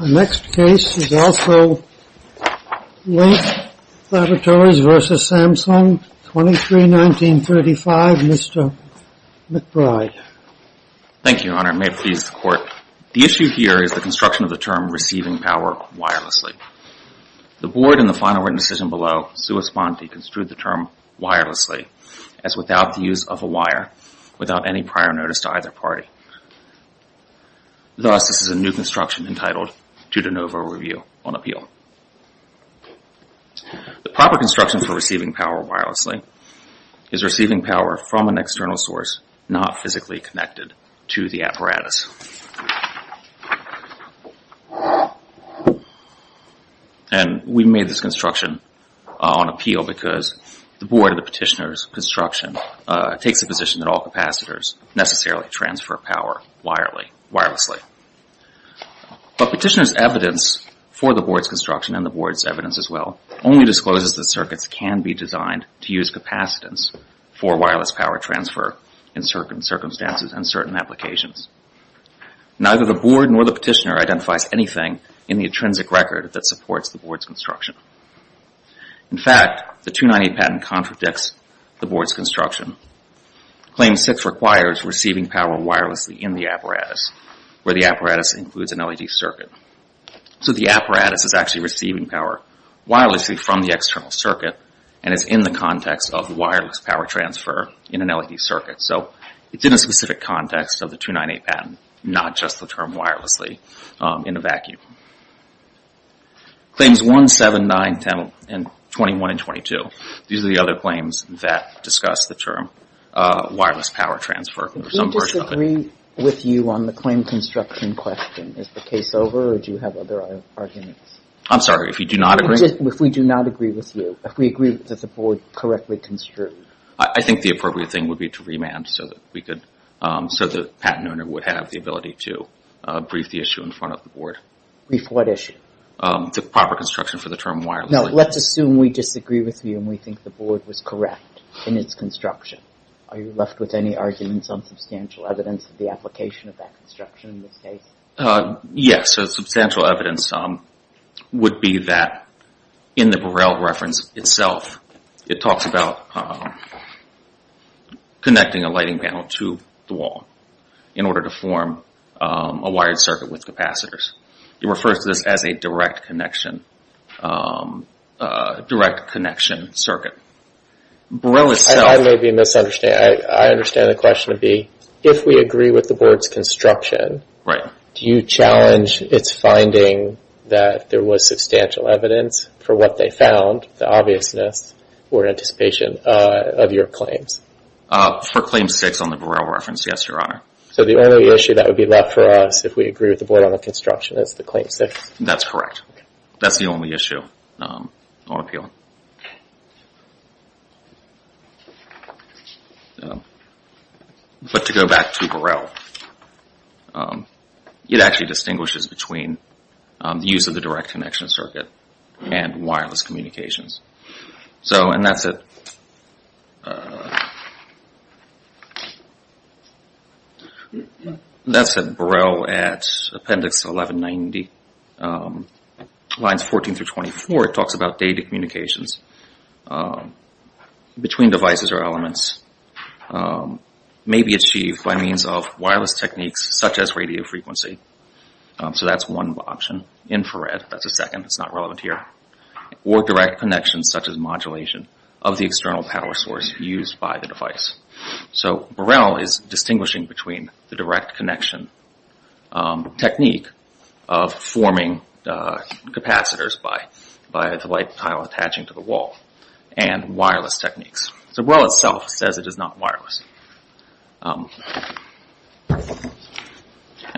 The next case is also Lank Laboratories v. Samsung, 23-1935, Mr. McBride. Thank you, Your Honor. May it please the Court. The issue here is the construction of the term receiving power wirelessly. The Board in the final written decision below, sua sponte, construed the term wirelessly, as without the use of a wire, without any prior notice to either party. Thus, this is a new construction entitled to de novo review on appeal. The proper construction for receiving power wirelessly is receiving power from an external source not physically connected to the apparatus. And we made this construction on appeal because the Board of the Petitioner's construction takes the position that all capacitors necessarily transfer power wirelessly. But Petitioner's evidence for the Board's construction and the Board's evidence as well only discloses that circuits can be designed to use capacitance for wireless power transfer in certain circumstances and certain applications. Neither the Board nor the Petitioner identifies anything in the intrinsic record that supports the Board's construction. In fact, the 298 patent contradicts the Board's construction. Claim 6 requires receiving power wirelessly in the apparatus, where the apparatus includes an LED circuit. So the apparatus is actually receiving power wirelessly from the external circuit and is in the context of the wireless power transfer in an LED circuit. So it's in a specific context of the 298 patent, not just the term wirelessly in a vacuum. Claims 1, 7, 9, 10, and 21 and 22, these are the other claims that discuss the term wireless power transfer. If we disagree with you on the claim construction question, is the case over or do you have other arguments? I'm sorry, if you do not agree? If we do not agree with you, if we agree that the Board correctly construed. I think the appropriate thing would be to remand so that the patent owner would have the ability to brief the issue in front of the Board. Brief what issue? The proper construction for the term wirelessly. No, let's assume we disagree with you and we think the Board was correct in its construction. Are you left with any arguments on substantial evidence of the application of that construction in this case? Yes. So substantial evidence would be that in the Burrell reference itself, it talks about connecting a lighting panel to the wall in order to form a wired circuit with capacitors. It refers to this as a direct connection circuit. I may be misunderstanding. I understand the question to be, if we agree with the Board's construction, do you challenge its finding that there was substantial evidence for what they found, the obviousness or anticipation of your claims? For Claim 6 on the Burrell reference, yes, Your Honor. So the only issue that would be left for us if we agree with the Board on the construction is the Claim 6? That's correct. That's the only issue on appeal. But to go back to Burrell, it actually distinguishes between the use of the direct connection circuit and wireless communications. And that's it. That's it. Burrell at Appendix 1190, lines 14 through 24, it talks about data communications between devices or elements may be achieved by means of wireless techniques such as radio frequency. So that's one option. Infrared, that's a second, it's not relevant here. Or direct connections such as modulation of the external power source used by the device. So Burrell is distinguishing between the direct connection technique of forming capacitors by the light tile attaching to the wall and wireless techniques. So Burrell itself says it is not wireless. And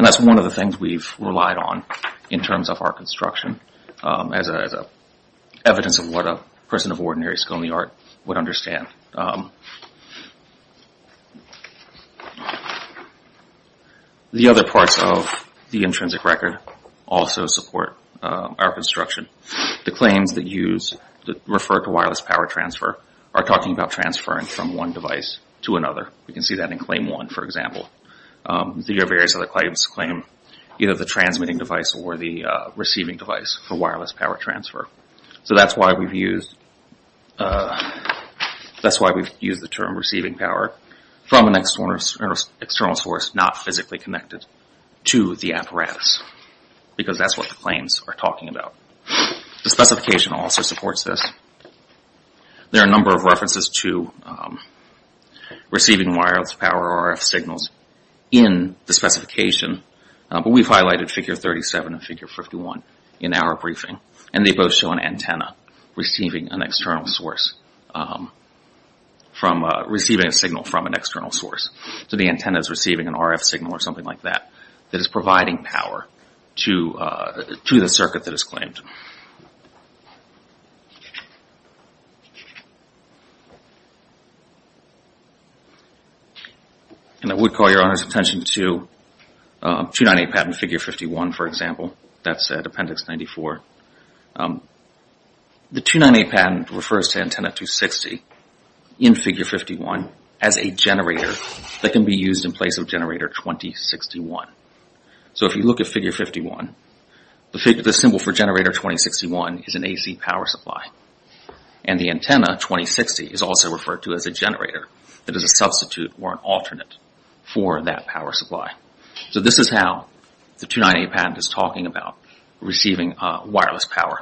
that's one of the things we've relied on in terms of our construction as evidence of what a person of ordinary scaly art would understand. The other parts of the intrinsic record also support our construction. The claims that refer to wireless power transfer are talking about transferring from one device to another. You can see that in Claim 1, for example. There are various other claims that claim either the transmitting device or the receiving device for wireless power transfer. So that's why we've used the term receiving power from an external source not physically connected to the apparatus. Because that's what the claims are talking about. The specification also supports this. There are a number of references to receiving wireless power RF signals in the specification. But we've highlighted figure 37 and figure 51 in our briefing. And they both show an antenna receiving an external source from receiving a signal from an external source. So the antenna is receiving an RF signal or something like that that is providing power to the circuit that is claimed. And I would call your attention to 298 patent figure 51, for example. That's appendix 94. The 298 patent refers to antenna 260 in figure 51 as a generator that can be used in place of generator 2061. So if you look at figure 51, the symbol for generator 2061 is an AC power supply. And the antenna 2060 is also referred to as a generator that is a substitute or an alternate for that power supply. So this is how the 298 patent is talking about receiving wireless power.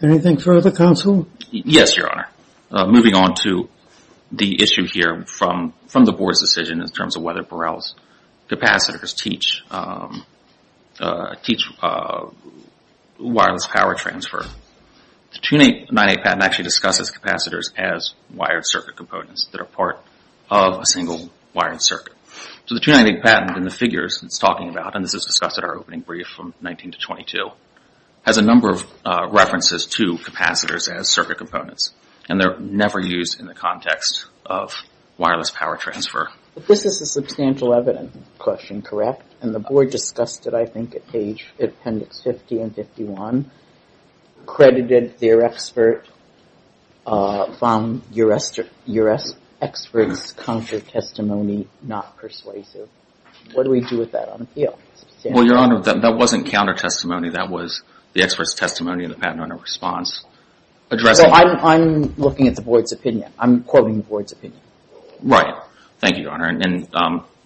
Anything further, counsel? Yes, your honor. Moving on to the issue here from the board's decision in terms of whether Burrell's capacitors teach wireless power transfer. The 298 patent actually discusses capacitors as wired circuit components that are part of a single wired circuit. So the 298 patent in the figures it's talking about, and this is discussed in our opening brief from 19 to 22, has a number of references to capacitors as circuit components. And they're never used in the context of wireless power transfer. This is a substantial evidence question, correct? And the board discussed it, I think, at page appendix 50 and 51, credited their expert from U.S. experts counter testimony not persuasive. What do we do with that on appeal? Well, your honor, that wasn't counter testimony. That was the expert's testimony in the patent owner's response. So I'm looking at the board's opinion. I'm quoting the board's opinion. Right. Thank you, your honor. And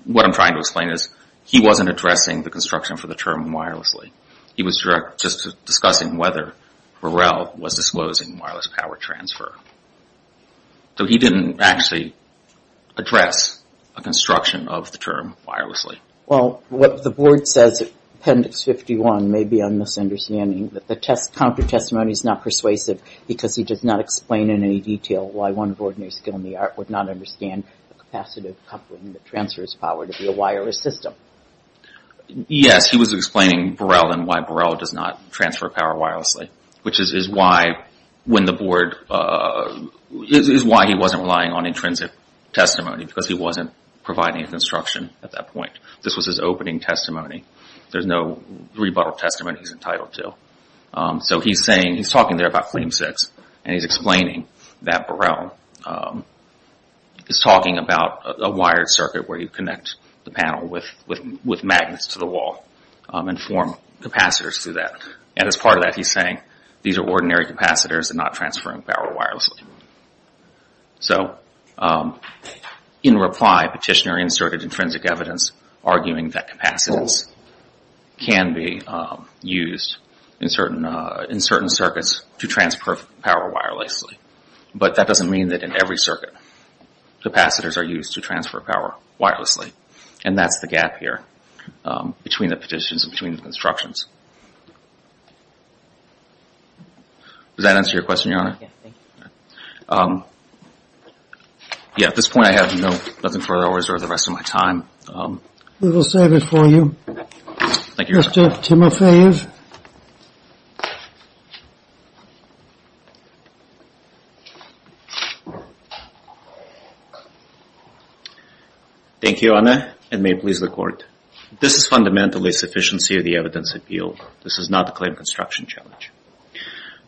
what I'm trying to explain is he wasn't addressing the construction for the term wirelessly. He was just discussing whether Burrell was disclosing wireless power transfer. So he didn't actually address a construction of the term wirelessly. Well, what the board says, appendix 51, may be a misunderstanding, that the counter testimony is not persuasive because he does not explain in any detail why one of ordinary skill in the art would not understand a capacitive coupling that transfers power to be a wireless system. Yes, he was explaining Burrell and why Burrell does not transfer power wirelessly, which is why when the board, is why he wasn't relying on intrinsic testimony because he wasn't providing a construction at that point. This was his opening testimony. There's no rebuttal testimony he's entitled to. So he's saying, he's talking there about claim six, and he's explaining that Burrell is talking about a wired circuit where you connect the panel with magnets to the wall and form capacitors through that. And as part of that, he's saying these are ordinary capacitors and not transferring power wirelessly. So in reply, petitioner inserted intrinsic evidence arguing that capacitors can be used in certain circuits to transfer power wirelessly. But that doesn't mean that in every circuit, capacitors are used to transfer power wirelessly. And that's the gap here between the petitions and between the constructions. Does that answer your question, your honor? Yeah, at this point I have nothing further to reserve the rest of my time. We will save it for you. Thank you, your honor. Mr. Timofeyev? Thank you, your honor, and may it please the court. This is fundamentally a sufficiency of the evidence appeal. This is not a claim construction challenge.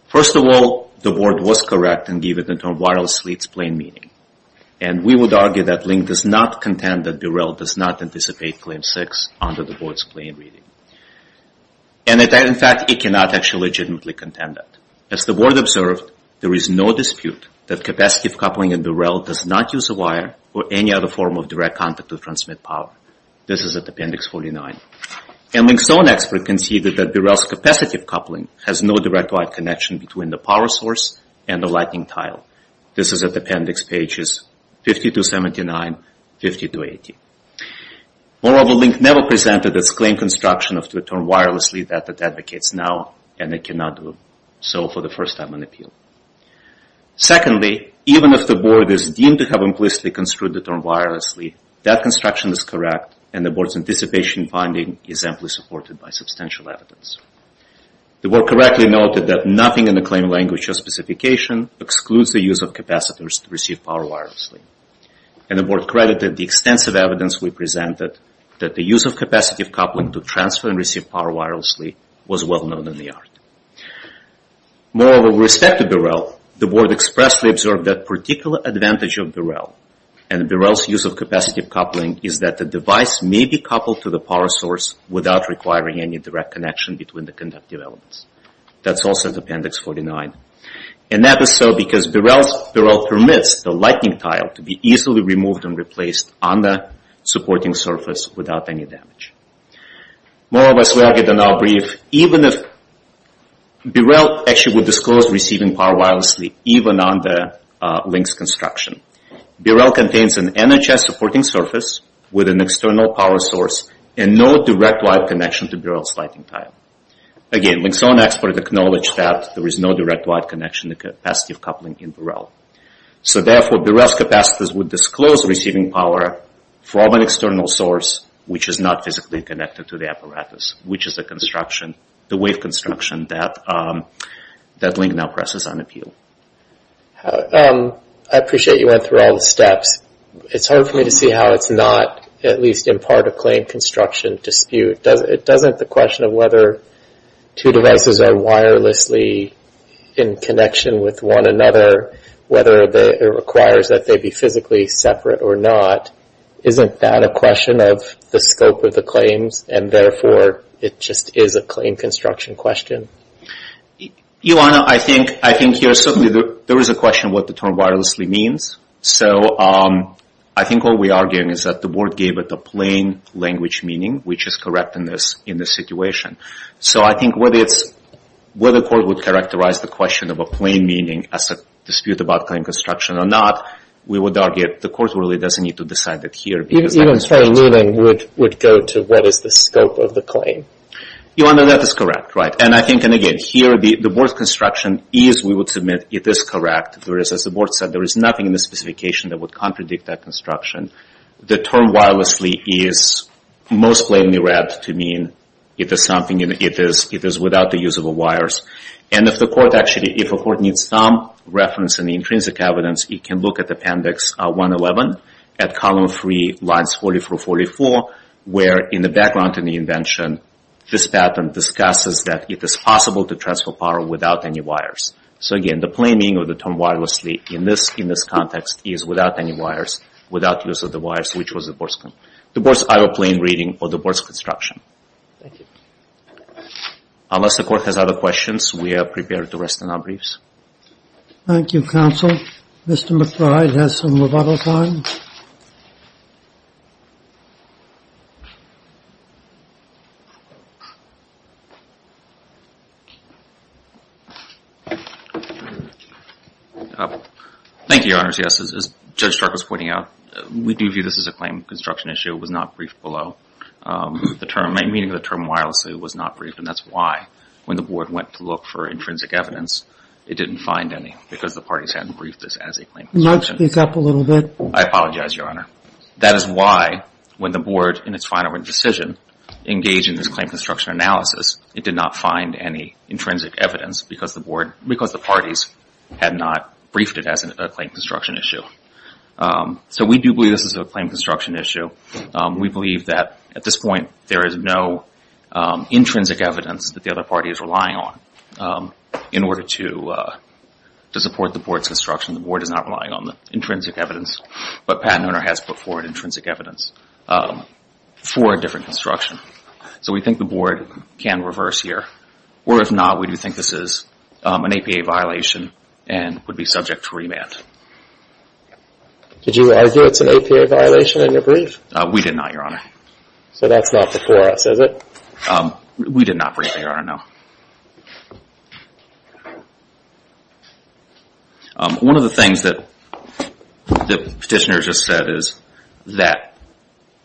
First of all, the board was correct in giving it a term wirelessly, it's plain meaning. And we would argue that Link does not contend that Burrell does not anticipate claim six under the board's plain reading. And in fact, it cannot actually legitimately contend that. As the board observed, there is no dispute that capacitive coupling in Burrell does not use a wire or any other form of direct contact to transmit power. This is at appendix 49. And Link's own expert conceded that Burrell's capacitive coupling has no direct wire connection between the power source and the lightning tile. This is at appendix pages 50 to 79, 50 to 80. Moreover, Link never presented its claim construction of the term wirelessly that it advocates now and it cannot do so for the first time on appeal. Secondly, even if the board is deemed to have implicitly construed the term wirelessly, that construction is correct and the board's anticipation finding is amply supported by substantial evidence. The board correctly noted that nothing in the claim language or specification excludes the use of capacitors to receive power wirelessly. And the board credited the extensive evidence we presented that the use of capacitive coupling to transfer and receive power wirelessly was well known in the art. Moreover, with respect to Burrell, the board expressly observed that particular advantage of Burrell and Burrell's use of capacitive coupling is that the device may be coupled to the power source without requiring any direct connection between the conductive elements. That's also at appendix 49. And that is so because Burrell permits the lightning tile to be easily removed and replaced on the supporting surface without any damage. Moreover, as we argued in our brief, even if Burrell actually would disclose receiving power wirelessly even on the Link's construction, Burrell contains an NHS supporting surface with an external power source and no direct wire connection to Burrell's lightning tile. Again, Link's own expert acknowledged that there is no direct wire connection to capacitive coupling in Burrell. So therefore, Burrell's capacitors would disclose receiving power from an external source which is not physically connected to the apparatus, which is the construction, the way of construction that Link now presses on appeal. I appreciate you went through all the steps. It's hard for me to see how it's not at least in part a claim construction dispute. It doesn't, the question of whether two devices are wirelessly in connection with one another, whether it requires that they be physically separate or not, isn't that a question of the scope of the claims and therefore it just is a claim construction question? Ilana, I think there is a question of what the term wirelessly means. So I think what we are arguing is that the board gave it the plain language meaning, which is correct in this situation. So I think whether the court would characterize the question of a plain meaning as a dispute about claim construction or not, we would argue the court really doesn't need to decide that here. Even a plain meaning would go to what is the scope of the claim? Ilana, that is correct, right. I think, again, here the board's construction is, we would submit, it is correct, whereas as the board said, there is nothing in the specification that would contradict that construction. The term wirelessly is most plainly read to mean it is something, it is without the use of wires. And if the court actually, if a court needs some reference in the intrinsic evidence, it can look at Appendix 111 at Column 3, Lines 44-44, where in the background in the invention, this pattern discusses that it is possible to transfer power without any wires. So again, the plain meaning of the term wirelessly in this context is without any wires, without use of the wires, which was the board's, the board's either plain reading or the board's construction. Thank you. Unless the court has other questions, we are prepared to rest on our briefs. Thank you, counsel. Mr. McBride has some rebuttal time. Thank you, Your Honors. Yes, as Judge Stark was pointing out, we do view this as a claim construction issue. It was not briefed below. The term, the meaning of the term wirelessly was not briefed and that is why when the board went to look for intrinsic evidence, it didn't find any because the parties hadn't briefed this as a claim construction. Can you speak up a little bit? I apologize, Your Honor. That is why when the board in its final decision engaged in this claim construction analysis, it did not find any intrinsic evidence because the board, because the parties had not briefed it as a claim construction issue. So we do believe this is a claim construction issue. We believe that at this point, there is no intrinsic evidence that the other party is relying on in order to support the board's construction. The board is not relying on the intrinsic evidence, but Patent Owner has put forward intrinsic evidence for a different construction. So we think the board can reverse here or if not, we do think this is an APA violation and would be subject to remand. Did you argue it's an APA violation in your brief? We did not, Your Honor. So that's not before us, is it? We did not brief, Your Honor, no. One of the things that the petitioner just said is that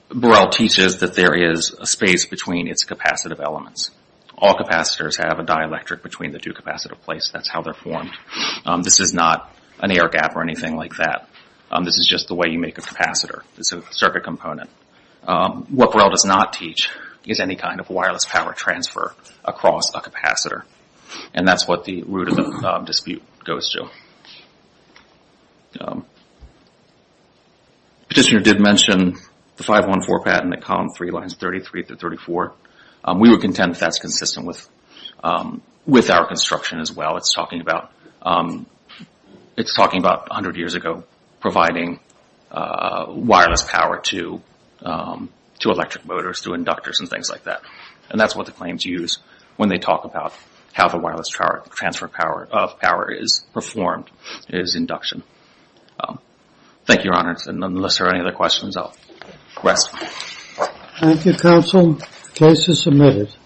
Burrell teaches that there is a space between its capacitive elements. All capacitors have a dielectric between the two capacitive plates. That's how they're formed. This is not an air gap or anything like that. This is just the way you make a capacitor. It's a circuit component. What Burrell does not teach is any kind of wireless power transfer across a capacitor. And that's what the root of the dispute goes to. Petitioner did mention the 514 patent at column 3, lines 33 through 34. We would contend that's consistent with our construction as well. It's talking about 100 years ago, providing wireless power to electric motors, to inductors and things like that. And that's what the claims use when they talk about how the wireless transfer of power is performed, is induction. Thank you, Your Honor. And unless there are any other questions, I'll rest. Thank you, counsel. The case is submitted.